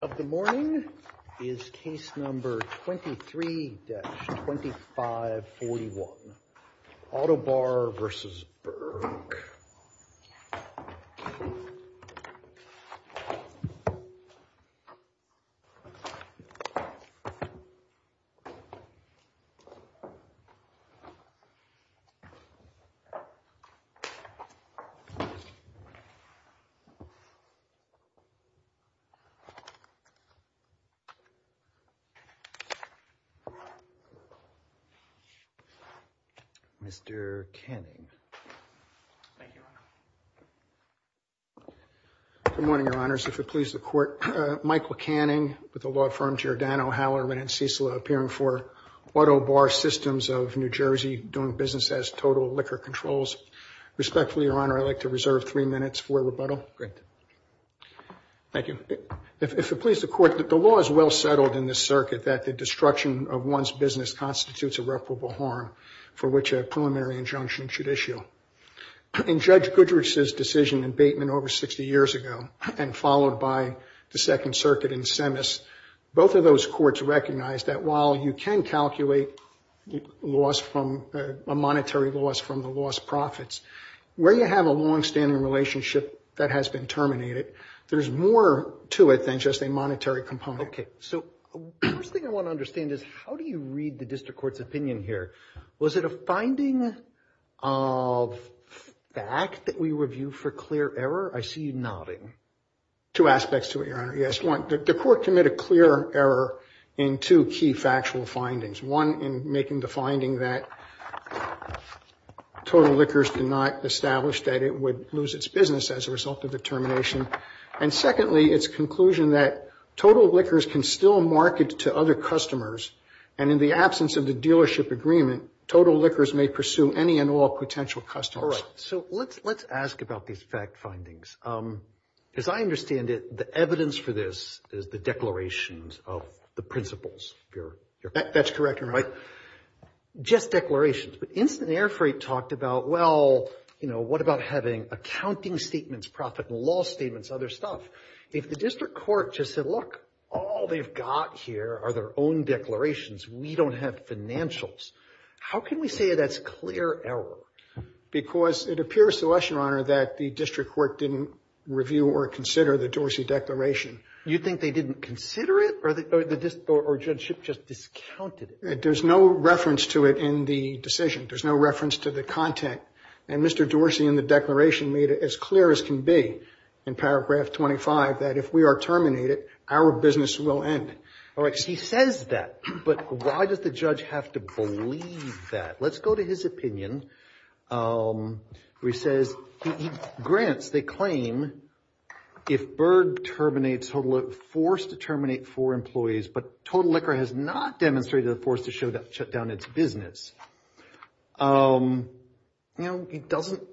Of the morning is case number 23-2541, Autobar v. Berg. Mr. Canning, thank you, Your Honor. Good morning, Your Honors. If it pleases the Court, Michael Canning with the law firm Giordano Howell & Ren & Cecila, appearing for Autobar Systems of New Jersey, doing business as Total Liquor Controls. Respectfully, Your Honor, I'd like to reserve three minutes for rebuttal. Great. Thank you. If it pleases the Court, the law is well settled in this circuit that the destruction of one's business constitutes irreparable harm for which a preliminary injunction should issue. In Judge Goodrich's decision in Bateman over 60 years ago, and followed by the Second Circuit in Semis, both of those courts recognized that while you can calculate a monetary loss from the lost profits, where you have a longstanding relationship that has been terminated, there's more to it than just a monetary component. So the first thing I want to understand is how do you read the district court's opinion here? Was it a finding of fact that we review for clear error? I see you nodding. Two aspects to it, Your Honor. Yes, one, the court committed clear error in two key factual findings, one in making the finding that Total Liquors did not establish that it would lose its business as a result of the termination. And secondly, its conclusion that Total Liquors can still market to other customers, and in the absence of the dealership agreement, Total Liquors may pursue any and all potential customers. So let's ask about these fact findings. As I understand it, the evidence for this is the declarations of the principles. That's correct, Your Honor. Just declarations. But Instant Air Freight talked about, well, you know, what about having accounting statements, profit and loss statements, other stuff. If the district court just said, look, all they've got here are their own declarations. We don't have financials. How can we say that's clear error? Because it appears to us, Your Honor, that the district court didn't review or consider the Dorsey Declaration. You think they didn't consider it or the district or the dealership just discounted it? There's no reference to it in the decision. There's no reference to the content. And Mr. Dorsey in the declaration made it as clear as can be in paragraph 25, that if we are terminated, our business will end. All right. He says that, but why does the judge have to believe that? Let's go to his opinion where he says he grants the claim, if Berg terminates Total Liquor, forced to terminate four employees, but Total Liquor has not demonstrated the force to shut down its business. You know, he doesn't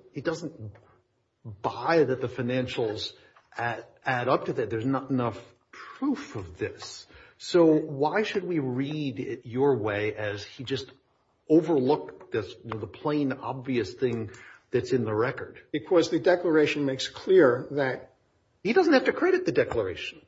buy that the financials add up to that. There's not enough proof of this. So why should we read it your way as he just overlooked the plain, obvious thing that's in the record? Because the declaration makes clear that he doesn't have to credit the declaration.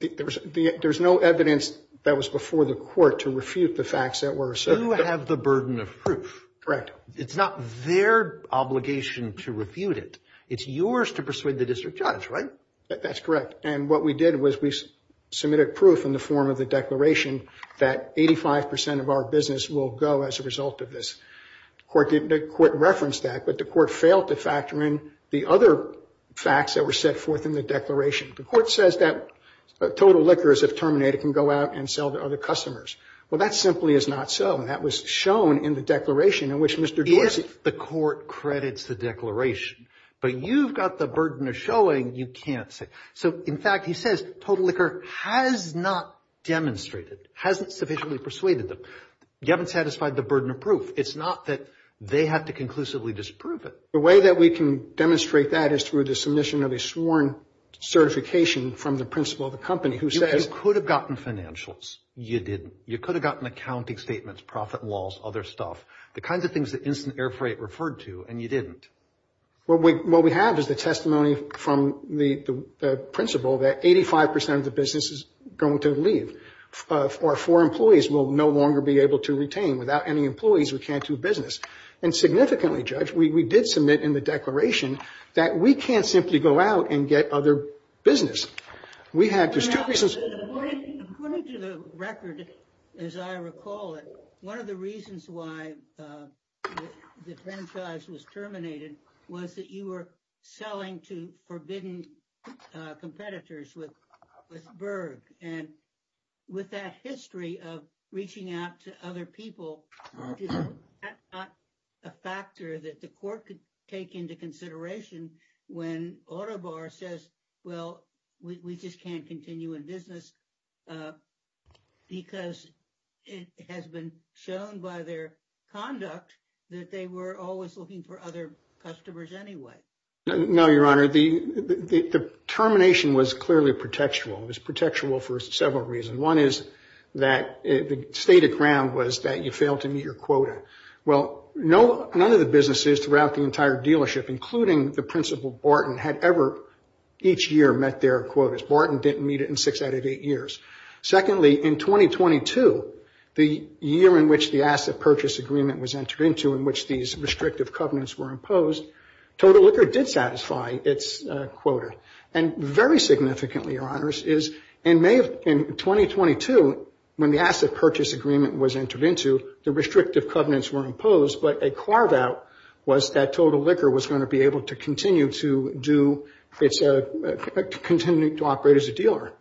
There's no evidence that was before the court to refute the facts that were asserted. You have the burden of proof. Correct. It's not their obligation to refute it. It's yours to persuade the district judge, right? That's correct. And what we did was we submitted proof in the form of the declaration that 85 percent of our business will go as a result of this. The court referenced that, but the court failed to factor in the other facts that were set forth in the declaration. The court says that Total Liquors, if terminated, can go out and sell to other customers. Well, that simply is not so, and that was shown in the declaration in which Mr. Dorsey… If the court credits the declaration, but you've got the burden of showing, you can't say. So, in fact, he says Total Liquor has not demonstrated, hasn't sufficiently persuaded them. You haven't satisfied the burden of proof. It's not that they have to conclusively disprove it. The way that we can demonstrate that is through the submission of a sworn certification from the principal of the company who says… You could have gotten financials. You didn't. You could have gotten accounting statements, profit laws, other stuff, the kinds of things that Instant Air Freight referred to, and you didn't. What we have is the testimony from the principal that 85 percent of the business is going to leave. Our four employees will no longer be able to retain. Without any employees, we can't do business. And significantly, Judge, we did submit in the declaration that we can't simply go out and get other business. We have… According to the record, as I recall it, one of the reasons why the franchise was terminated was that you were selling to forbidden competitors with Berg. And with that history of reaching out to other people, is that not a factor that the court could take into consideration when Autobar says, well, we just can't continue in business because it has been shown by their conduct that they were always looking for other customers anyway. No, Your Honor. The termination was clearly protectual. It was protectual for several reasons. One is that the stated ground was that you failed to meet your quota. Well, none of the businesses throughout the entire dealership, including the principal Barton, had ever each year met their quotas. Barton didn't meet it in six out of eight years. Secondly, in 2022, the year in which the asset purchase agreement was entered into in which these restrictive covenants were imposed, Total Liquor did satisfy its quota. And very significantly, Your Honors, is in May of 2022, when the asset purchase agreement was entered into, the restrictive covenants were imposed, but a carve-out was that Total Liquor was going to be able to continue to operate as a dealer.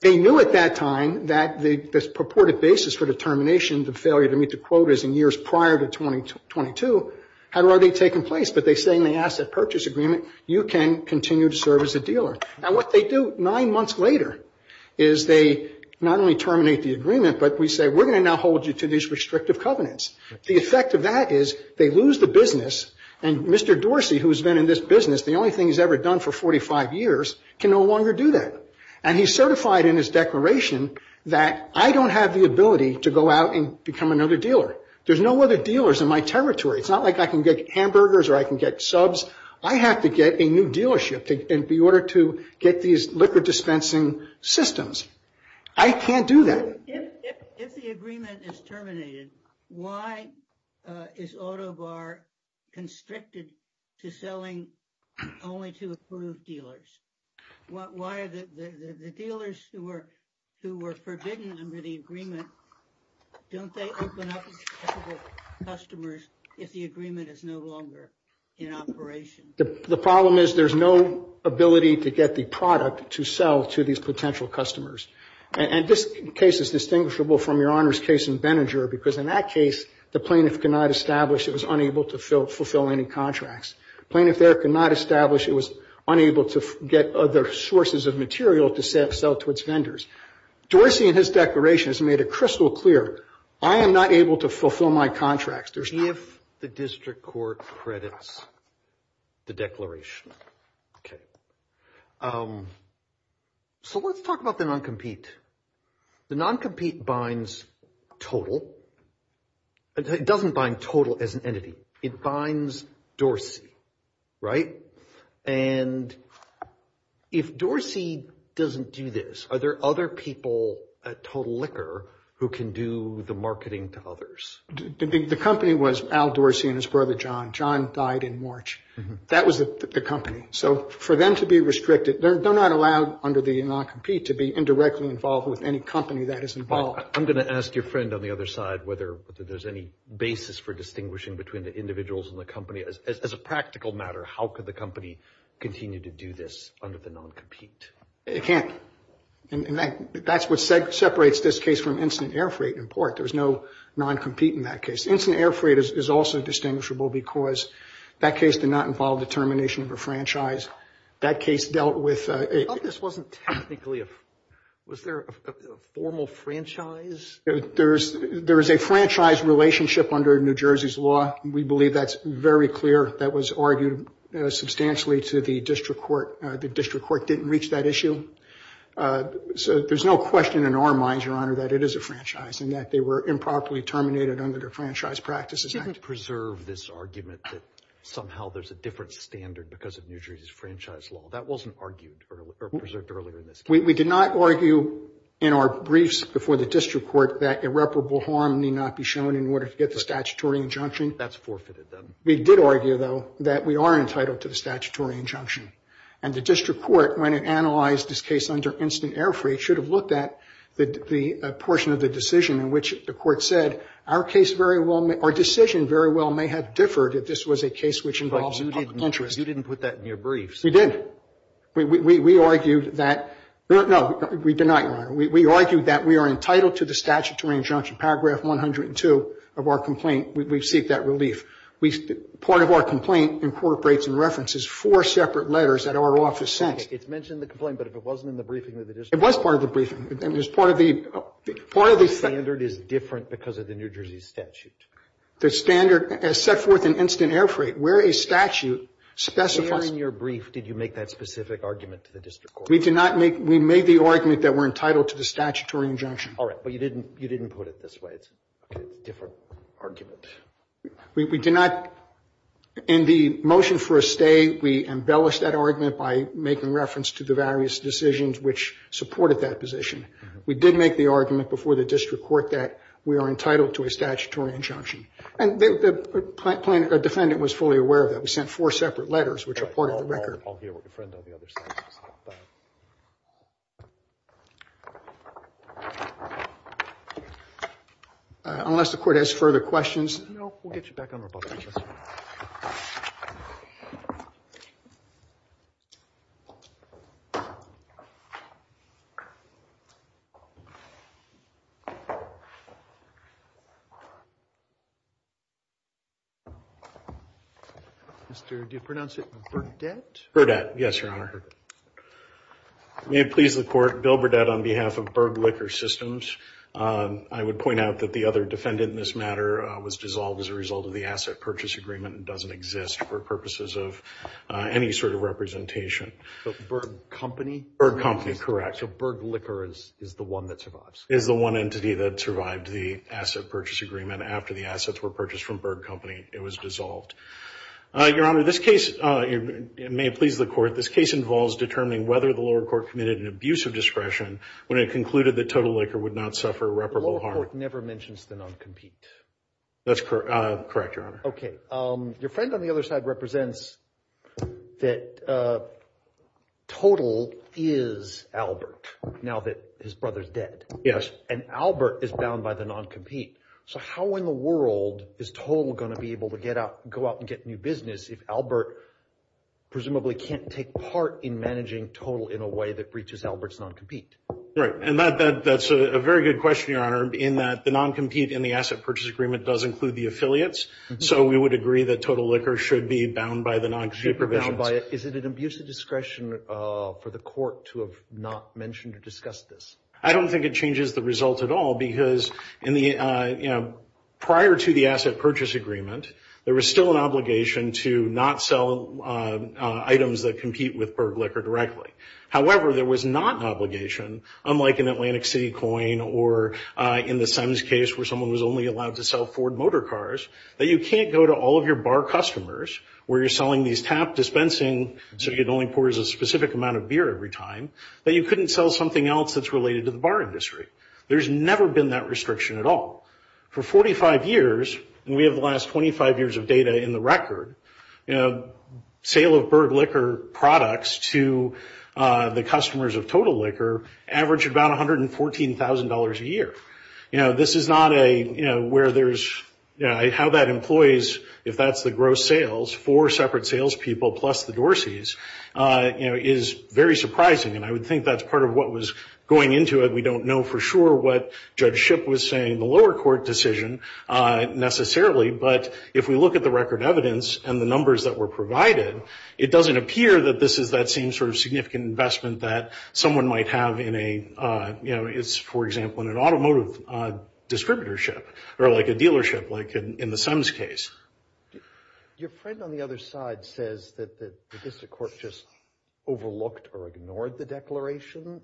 They knew at that time that this purported basis for determination, the failure to meet the quotas in years prior to 2022, had already taken place. But they say in the asset purchase agreement, you can continue to serve as a dealer. And what they do nine months later is they not only terminate the agreement, but we say we're going to now hold you to these restrictive covenants. The effect of that is they lose the business, and Mr. Dorsey, who has been in this business, the only thing he's ever done for 45 years, can no longer do that. And he certified in his declaration that I don't have the ability to go out and become another dealer. There's no other dealers in my territory. It's not like I can get hamburgers or I can get subs. I have to get a new dealership in order to get these liquor dispensing systems. I can't do that. If the agreement is terminated, why is Auto Bar constricted to selling only to approved dealers? Why are the dealers who were forbidden under the agreement, don't they open up to potential customers if the agreement is no longer in operation? The problem is there's no ability to get the product to sell to these potential customers. And this case is distinguishable from Your Honor's case in Benninger, because in that case the plaintiff could not establish it was unable to fulfill any contracts. The plaintiff there could not establish it was unable to get other sources of material to sell to its vendors. Dorsey in his declaration has made it crystal clear, I am not able to fulfill my contracts. If the district court credits the declaration. Okay. So let's talk about the non-compete. The non-compete binds total. It doesn't bind total as an entity. It binds Dorsey, right? And if Dorsey doesn't do this, are there other people at Total Liquor who can do the marketing to others? The company was Al Dorsey and his brother John. John died in March. That was the company. So for them to be restricted, they're not allowed under the non-compete to be indirectly involved with any company that is involved. I'm going to ask your friend on the other side whether there's any basis for distinguishing between the individuals and the company. As a practical matter, how could the company continue to do this under the non-compete? It can't. And that's what separates this case from Incident Air Freight in part. There's no non-compete in that case. Incident Air Freight is also distinguishable because that case did not involve the termination of a franchise. That case dealt with a... This wasn't technically a... Was there a formal franchise? There is a franchise relationship under New Jersey's law. We believe that's very clear. That was argued substantially to the district court. The district court didn't reach that issue. So there's no question in our minds, Your Honor, that it is a franchise and that they were improperly terminated under the Franchise Practices Act. You didn't preserve this argument that somehow there's a different standard because of New Jersey's franchise law. That wasn't argued or preserved earlier in this case. We did not argue in our briefs before the district court that irreparable harm need not be shown in order to get the statutory injunction. That's forfeited, then. We did argue, though, that we are entitled to the statutory injunction. And the district court, when it analyzed this case under Incident Air Freight, should have looked at the portion of the decision in which the court said, our decision very well may have differed if this was a case which involves public interest. But you didn't put that in your briefs. We did. We argued that no, we did not, Your Honor. We argued that we are entitled to the statutory injunction. Paragraph 102 of our complaint, we seek that relief. Part of our complaint incorporates and references four separate letters that our office sent. It's mentioned in the complaint, but if it wasn't in the briefing of the district court. It was part of the briefing. It was part of the standard. The standard is different because of the New Jersey statute. The standard as set forth in Incident Air Freight, where a statute specifies. When it was in your brief, did you make that specific argument to the district court? We did not make. We made the argument that we're entitled to the statutory injunction. All right. But you didn't put it this way. It's a different argument. We did not. In the motion for a stay, we embellished that argument by making reference to the various decisions which supported that position. We did make the argument before the district court that we are entitled to a statutory injunction. And the defendant was fully aware of that. We sent four separate letters, which are part of the record. Unless the court has further questions. No. We'll get you back on the bus. Do you pronounce it Burdette? Yes, Your Honor. May it please the court, Bill Burdette on behalf of Berg Liquor Systems. I would point out that the other defendant in this matter was dissolved as a result of the asset purchase agreement and doesn't exist for purposes of any sort of representation. Berg Company? Berg Company, correct. So Berg Liquor is the one that survives? Is the one entity that survived the asset purchase agreement. After the assets were purchased from Berg Company, it was dissolved. Your Honor, this case, may it please the court, this case involves determining whether the lower court committed an abuse of discretion when it concluded that Total Liquor would not suffer reparable harm. The lower court never mentions the non-compete. That's correct, Your Honor. Okay. Your friend on the other side represents that Total is Albert now that his brother's dead. Yes. And Albert is bound by the non-compete. So how in the world is Total going to be able to go out and get new business if Albert presumably can't take part in managing Total in a way that breaches Albert's non-compete? Right. And that's a very good question, Your Honor, in that the non-compete in the asset purchase agreement does include the affiliates. So we would agree that Total Liquor should be bound by the non-compete provision. Should be bound by it. Is it an abuse of discretion for the court to have not mentioned or discussed this? I don't think it changes the result at all because in the, you know, prior to the asset purchase agreement, there was still an obligation to not sell items that compete with Berg Liquor directly. However, there was not an obligation, unlike in Atlantic City Coin or in the SEMS case where someone was only allowed to sell Ford motor cars, that you can't go to all of your bar customers where you're selling these tap dispensing so you can only pour a specific amount of beer every time, that you couldn't sell something else that's related to the bar industry. There's never been that restriction at all. For 45 years, and we have the last 25 years of data in the record, you know, sale of Berg Liquor products to the customers of Total Liquor averaged about $114,000 a year. You know, this is not a, you know, where there's, you know, how that employs, if that's the gross sales, four separate salespeople plus the Dorsey's, you know, is very surprising. And I would think that's part of what was going into it. We don't know for sure what Judge Shipp was saying in the lower court decision necessarily, but if we look at the record evidence and the numbers that were provided, it doesn't appear that this is that same sort of significant investment that someone might have in a, you know, it's, for example, in an automotive distributorship or like a dealership like in the SEMS case. Your friend on the other side says that the district court just overlooked or overlooked the declaration.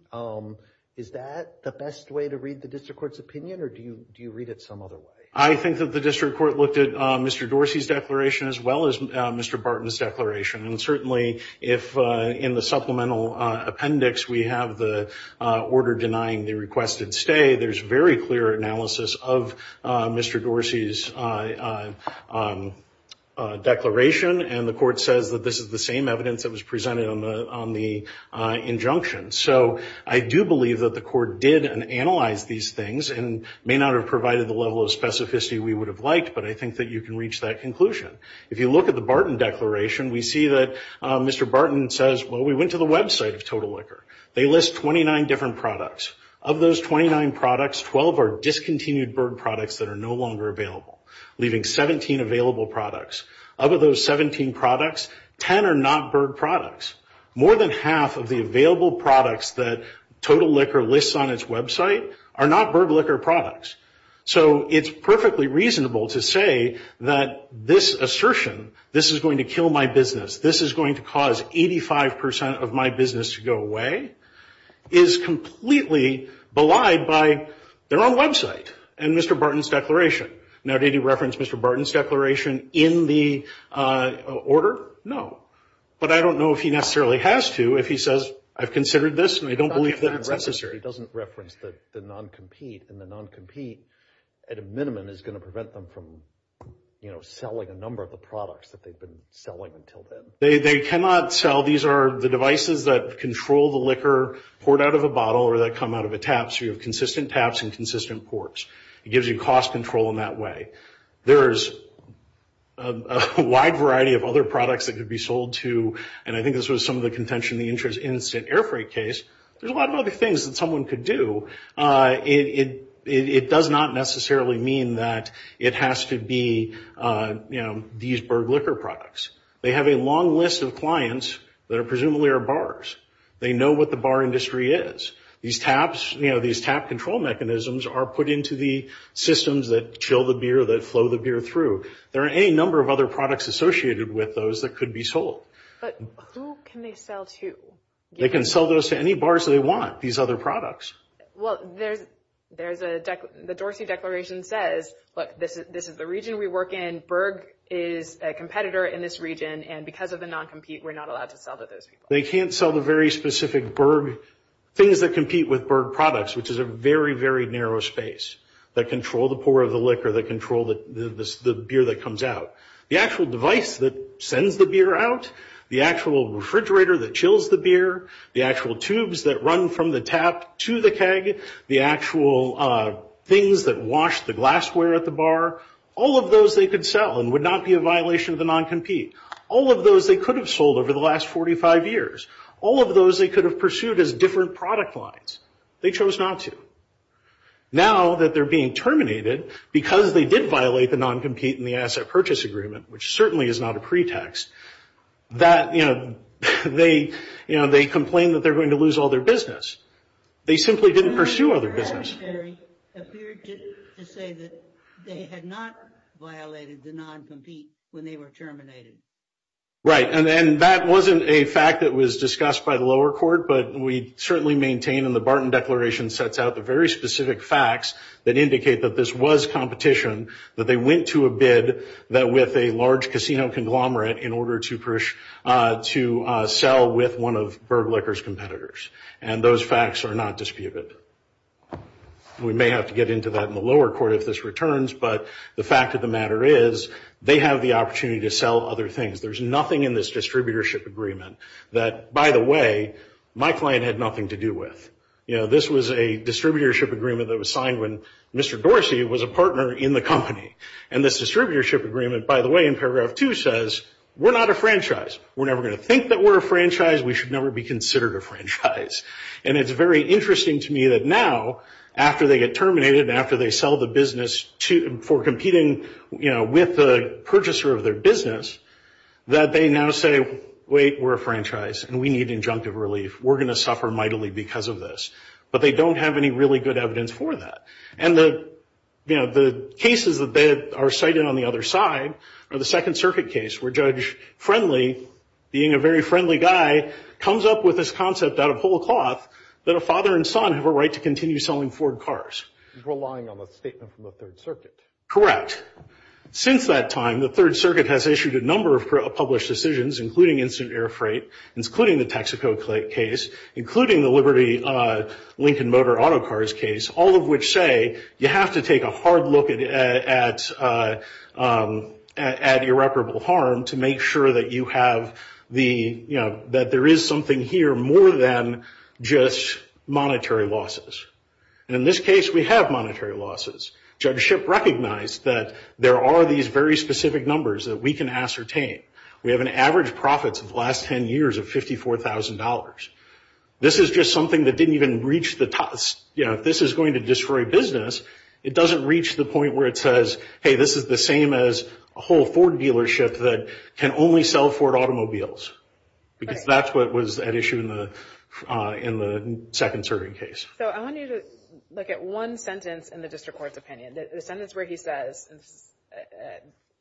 Is that the best way to read the district court's opinion or do you read it some other way? I think that the district court looked at Mr. Dorsey's declaration as well as Mr. Barton's declaration. And certainly if in the supplemental appendix we have the order denying the requested stay, there's very clear analysis of Mr. Dorsey's declaration and the court says that this is the same evidence that was presented on the injunction. So I do believe that the court did analyze these things and may not have provided the level of specificity we would have liked, but I think that you can reach that conclusion. If you look at the Barton declaration, we see that Mr. Barton says, well, we went to the website of Total Liquor. They list 29 different products. Of those 29 products, 12 are discontinued bird products that are no longer available, leaving 17 available products. Of those 17 products, 10 are not bird products. More than half of the available products that Total Liquor lists on its website are not bird liquor products. So it's perfectly reasonable to say that this assertion, this is going to kill my business, this is going to cause 85% of my business to go away, is completely belied by their own website and Mr. Barton's declaration. Now, did he reference Mr. Barton's declaration in the order? No. But I don't know if he necessarily has to. If he says, I've considered this and I don't believe that it's necessary. He doesn't reference the non-compete. And the non-compete, at a minimum, is going to prevent them from, you know, selling a number of the products that they've been selling until then. They cannot sell. These are the devices that control the liquor poured out of a bottle or that come out of a tap. So you have consistent taps and consistent pours. It gives you cost control in that way. There is a wide variety of other products that could be sold to, and I think this was some of the contention in the interest instant air freight case, there's a lot of other things that someone could do. It does not necessarily mean that it has to be, you know, these bird liquor products. They have a long list of clients that presumably are bars. They know what the bar industry is. These taps, you know, these tap control mechanisms are put into the systems that chill the beer, that flow the beer through. There are any number of other products associated with those that could be sold. But who can they sell to? They can sell those to any bars they want, these other products. Well, there's a, the Dorsey Declaration says, look, this is the region we work in. Berg is a competitor in this region. And because of the non-compete, we're not allowed to sell to those people. They can't sell the very specific Berg, things that compete with Berg products, which is a very, very narrow space that control the pour of the liquor, that control the beer that comes out. The actual device that sends the beer out, the actual refrigerator that chills the beer, the actual tubes that run from the tap to the keg, the actual things that wash the glassware at the bar, all of those they could sell and would not be a violation of the non-compete. All of those they could have sold over the last 45 years. All of those they could have pursued as different product lines. They chose not to. Now that they're being terminated, because they did violate the non-compete and the asset purchase agreement, which certainly is not a pretext, that, you know, they, you know, they complain that they're going to lose all their business. They simply didn't pursue all their business. The Judiciary appeared to say that they had not violated the non-compete when they were terminated. Right. And that wasn't a fact that was discussed by the lower court, but we certainly maintain in the Barton Declaration sets out the very specific facts that indicate that this was competition, that they went to a bid that with a large casino conglomerate in order to sell with one of Berg Liquor's competitors. And those facts are not disputed. We may have to get into that in the lower court if this returns, but the fact of the matter is they have the opportunity to sell other things. There's nothing in this distributorship agreement that, by the way, my client had nothing to do with. You know, this was a distributorship agreement that was signed when Mr. Dorsey was a partner in the company. And this distributorship agreement, by the way, in paragraph two says, we're not a franchise. We're never going to think that we're a franchise. We should never be considered a franchise. And it's very interesting to me that now, after they get terminated and after they sell the business for competing, you know, with the purchaser of their business, that they now say, wait, we're a franchise and we need injunctive relief. We're going to suffer mightily because of this. But they don't have any really good evidence for that. And, you know, the cases that are cited on the other side are the Second Circuit case where Judge Friendly, being a very friendly guy, comes up with this concept out of whole cloth that a father and son have a right to continue selling Ford cars. He's relying on the statement from the Third Circuit. Correct. Since that time, the Third Circuit has issued a number of published decisions, including instant air freight, including the Texaco case, including the Liberty Lincoln Motor Auto Cars case, all of which say you have to take a hard look at irreparable harm to make sure that you have the, you know, that there is something here more than just monetary losses. And in this case, we have monetary losses. Judge Shipp recognized that there are these very specific numbers that we can ascertain. We have an average profits of the last 10 years of $54,000. This is just something that didn't even reach the top. You know, if this is going to destroy business, it doesn't reach the point where it says, hey, this is the same as a whole Ford dealership that can only sell Ford automobiles. Because that's what was at issue in the second serving case. So I want you to look at one sentence in the district court's opinion, the sentence where he says,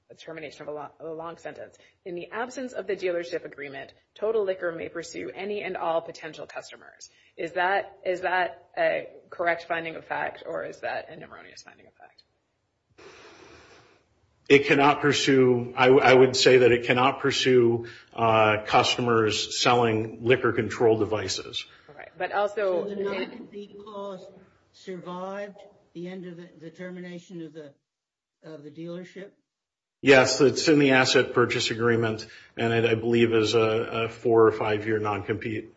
a termination of a long sentence, in the absence of the dealership agreement, total liquor may pursue any and all potential customers. Is that a correct finding of fact, or is that an erroneous finding of fact? It cannot pursue. I would say that it cannot pursue customers selling liquor control devices. All right. So the non-compete clause survived the end of the termination of the dealership? Yes. It's in the asset purchase agreement, and I believe is a four or five-year non-compete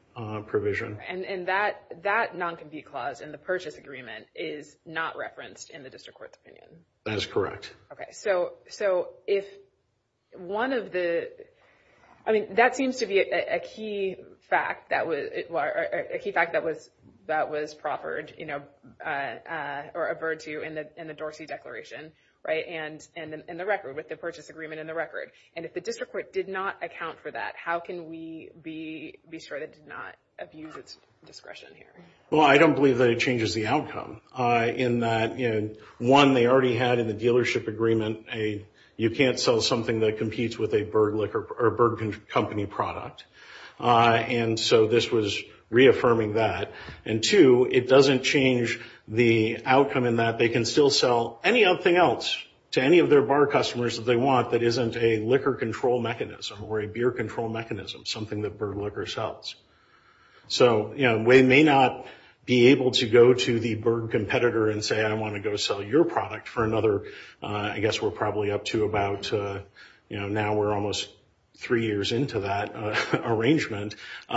provision. And that non-compete clause in the purchase agreement is not referenced in the district court's opinion? That is correct. Okay. So if one of the – I mean, that seems to be a key fact that was – a key fact that was proffered, you know, or averred to in the Dorsey Declaration, right, and in the record with the purchase agreement in the record. And if the district court did not account for that, how can we be sure that it did not abuse its discretion here? Well, I don't believe that it changes the outcome. In that, you know, one, they already had in the dealership agreement, you can't sell something that competes with a Berg company product. And so this was reaffirming that. And two, it doesn't change the outcome in that they can still sell anything else to any of their bar customers that they want that isn't a liquor control mechanism or a beer control mechanism, something that Berg Liquor sells. So, you know, we may not be able to go to the Berg competitor and say, I want to go sell your product for another – I guess we're probably up to about – you know, now we're almost three years into that arrangement. You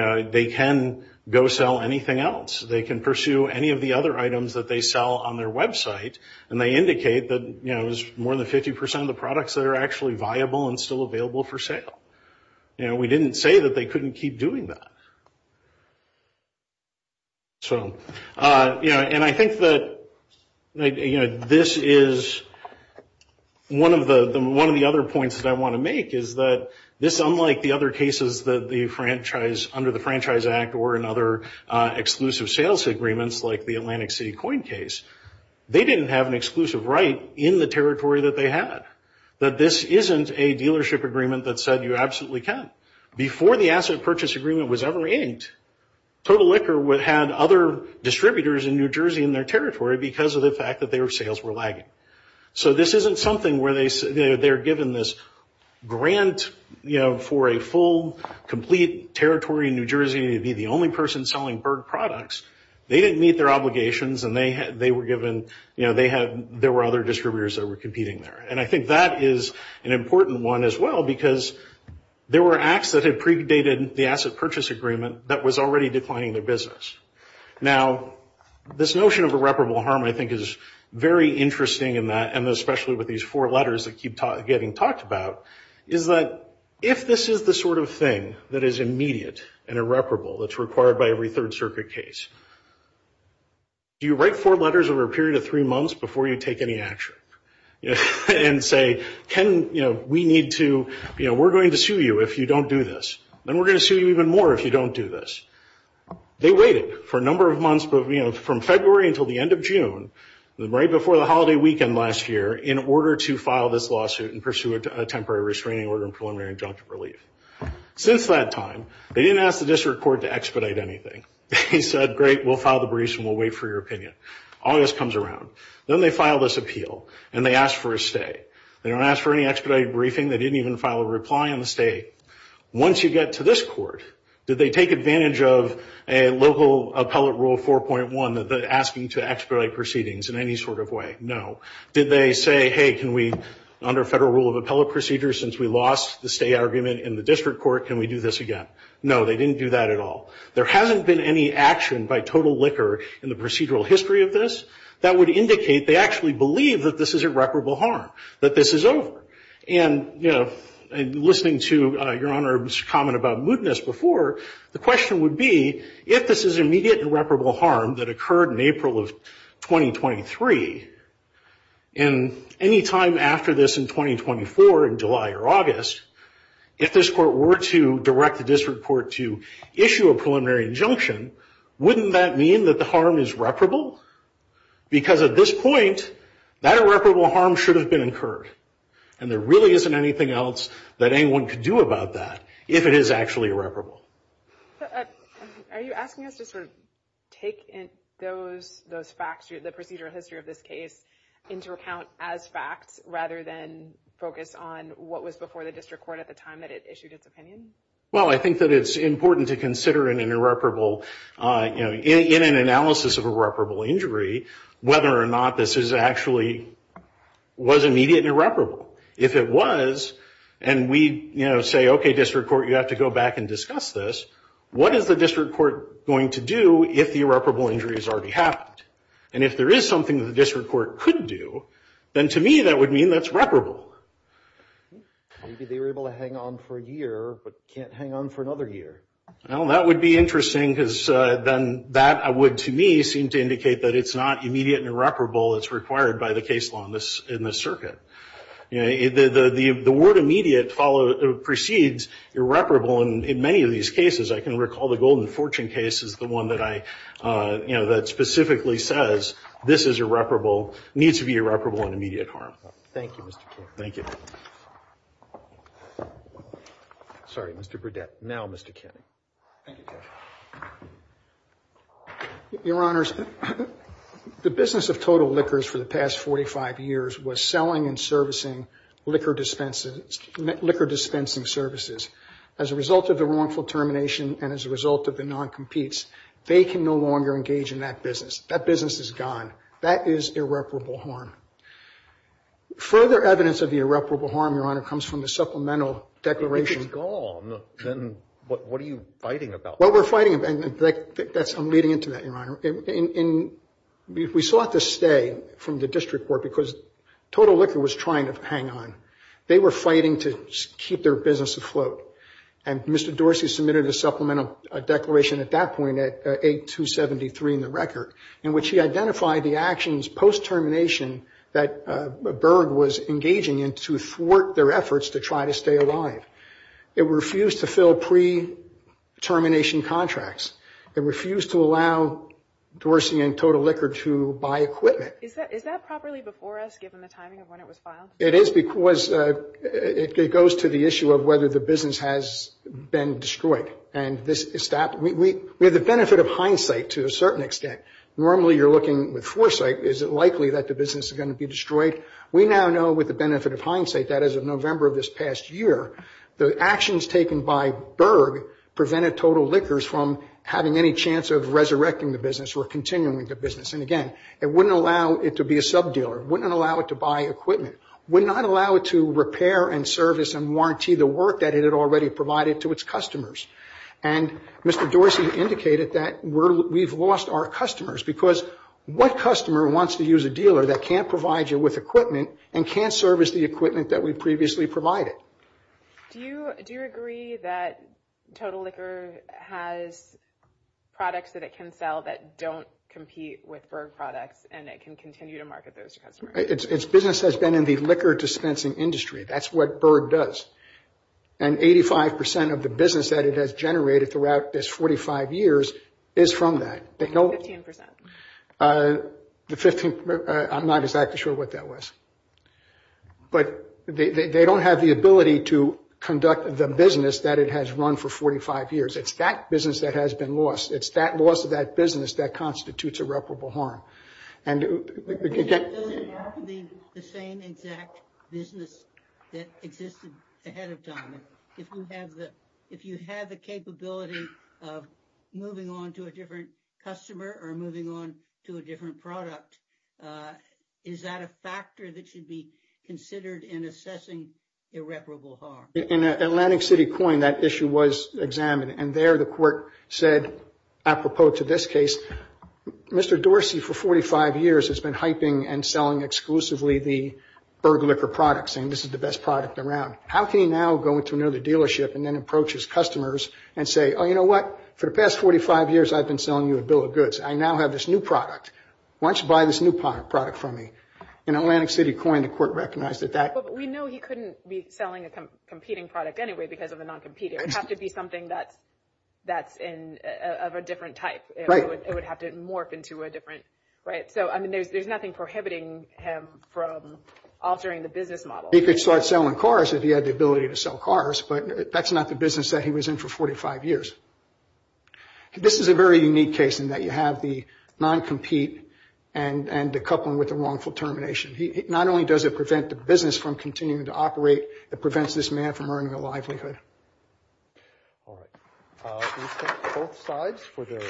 know, they can go sell anything else. They can pursue any of the other items that they sell on their website, and they indicate that, you know, there's more than 50 percent of the products that are actually viable and still available for sale. You know, we didn't say that they couldn't keep doing that. So, you know, and I think that, you know, this is one of the other points that I want to make is that this, unlike the other cases that the franchise – under the Franchise Act or in other exclusive sales agreements like the Atlantic City Coin case, they didn't have an exclusive right in the territory that they had. That this isn't a dealership agreement that said you absolutely can. Before the asset purchase agreement was ever inked, Total Liquor had other distributors in New Jersey in their territory because of the fact that their sales were lagging. So this isn't something where they're given this grant, you know, for a full, complete territory in New Jersey to be the only person selling Berg products. They didn't meet their obligations, and they were given – you know, there were other distributors that were competing there. And I think that is an important one as well because there were acts that had predated the asset purchase agreement that was already declining their business. Now, this notion of irreparable harm, I think, is very interesting in that, and especially with these four letters that keep getting talked about, is that if this is the sort of thing that is immediate and irreparable that's required by every Third Circuit case, do you write four letters over a period of three months before you take any action? And say, can – you know, we need to – you know, we're going to sue you if you don't do this. Then we're going to sue you even more if you don't do this. They waited for a number of months, but, you know, from February until the end of June, right before the holiday weekend last year, in order to file this lawsuit and pursue a temporary restraining order and preliminary injunctive relief. Since that time, they didn't ask the district court to expedite anything. They said, great, we'll file the briefs and we'll wait for your opinion. August comes around. Then they file this appeal, and they ask for a stay. They don't ask for any expedited briefing. They didn't even file a reply on the stay. Once you get to this court, did they take advantage of a local appellate rule 4.1 asking to expedite proceedings in any sort of way? No. Did they say, hey, can we, under federal rule of appellate procedure, since we lost the stay argument in the district court, can we do this again? No, they didn't do that at all. There hasn't been any action by Total Liquor in the procedural history of this that would indicate they actually believe that this is irreparable harm, that this is over. And, you know, listening to Your Honor's comment about mootness before, the question would be, if this is immediate irreparable harm that occurred in April of 2023, and any time after this in 2024, in July or August, if this court were to direct the district court to issue a preliminary injunction, wouldn't that mean that the harm is reparable? Because at this point, that irreparable harm should have been incurred. And there really isn't anything else that anyone could do about that if it is actually irreparable. Are you asking us to sort of take in those facts, the procedural history of this case, into account as facts, rather than focus on what was before the district court at the time that it issued its opinion? Well, I think that it's important to consider in an analysis of irreparable injury whether or not this actually was immediate and irreparable. If it was, and we say, okay, district court, you have to go back and discuss this, what is the district court going to do if the irreparable injury has already happened? And if there is something that the district court could do, then to me that would mean that's reparable. Maybe they were able to hang on for a year but can't hang on for another year. Well, that would be interesting because then that would, to me, seem to indicate that it's not immediate and irreparable. It's required by the case law in this circuit. The word immediate precedes irreparable. And in many of these cases, I can recall the Golden Fortune case is the one that I, you know, that specifically says this is irreparable, needs to be irreparable and immediate harm. Thank you, Mr. Kennedy. Thank you. Sorry, Mr. Burdett. Now, Mr. Kennedy. Thank you, Judge. Your Honors, the business of Total Liquors for the past 45 years was selling and servicing liquor dispensing services. As a result of the wrongful termination and as a result of the non-competes, they can no longer engage in that business. That business is gone. That is irreparable harm. Further evidence of the irreparable harm, Your Honor, comes from the Supplemental Declaration. If it's gone, then what are you fighting about? Well, we're fighting, and I'm leading into that, Your Honor. We sought to stay from the district court because Total Liquor was trying to hang on. They were fighting to keep their business afloat. And Mr. Dorsey submitted a Supplemental Declaration at that point, at 8-273 in the record, in which he identified the actions post-termination that Berg was engaging in to thwart their efforts to try to stay alive. It refused to fill pre-termination contracts. It refused to allow Dorsey and Total Liquor to buy equipment. Is that properly before us, given the timing of when it was filed? It is because it goes to the issue of whether the business has been destroyed. We have the benefit of hindsight, to a certain extent. Normally, you're looking with foresight. Is it likely that the business is going to be destroyed? We now know, with the benefit of hindsight, that as of November of this past year, the actions taken by Berg prevented Total Liquors from having any chance of resurrecting the business or continuing the business. And, again, it wouldn't allow it to be a sub-dealer. It wouldn't allow it to buy equipment. It would not allow it to repair and service and warranty the work that it had already provided to its customers. And Mr. Dorsey indicated that we've lost our customers because what customer wants to use a dealer that can't provide you with equipment and can't service the equipment that we previously provided? Do you agree that Total Liquor has products that it can sell that don't compete with Berg products and it can continue to market those to customers? Its business has been in the liquor dispensing industry. That's what Berg does. And 85% of the business that it has generated throughout this 45 years is from that. 15%. I'm not exactly sure what that was. But they don't have the ability to conduct the business that it has run for 45 years. It's that business that has been lost. It's that loss of that business that constitutes irreparable harm. Does it have to be the same exact business that existed ahead of time? If you have the capability of moving on to a different customer or moving on to a different product, is that a factor that should be considered in assessing irreparable harm? In Atlantic City Coin, that issue was examined. And there the court said, apropos to this case, Mr. Dorsey for 45 years has been hyping and selling exclusively the Berg liquor products and this is the best product around. How can he now go into another dealership and then approach his customers and say, Oh, you know what? For the past 45 years, I've been selling you a bill of goods. I now have this new product. Why don't you buy this new product from me? In Atlantic City Coin, the court recognized that that But we know he couldn't be selling a competing product anyway because of a non-competer. It would have to be something that's of a different type. Right. It would have to morph into a different, right? So, I mean, there's nothing prohibiting him from altering the business model. He could start selling cars if he had the ability to sell cars, but that's not the business that he was in for 45 years. This is a very unique case in that you have the non-compete and the coupling with the wrongful termination. Not only does it prevent the business from continuing to operate, it prevents this man from earning a livelihood. All right. We thank both sides for their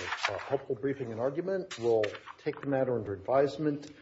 helpful briefing and argument. We'll take the matter under advisement.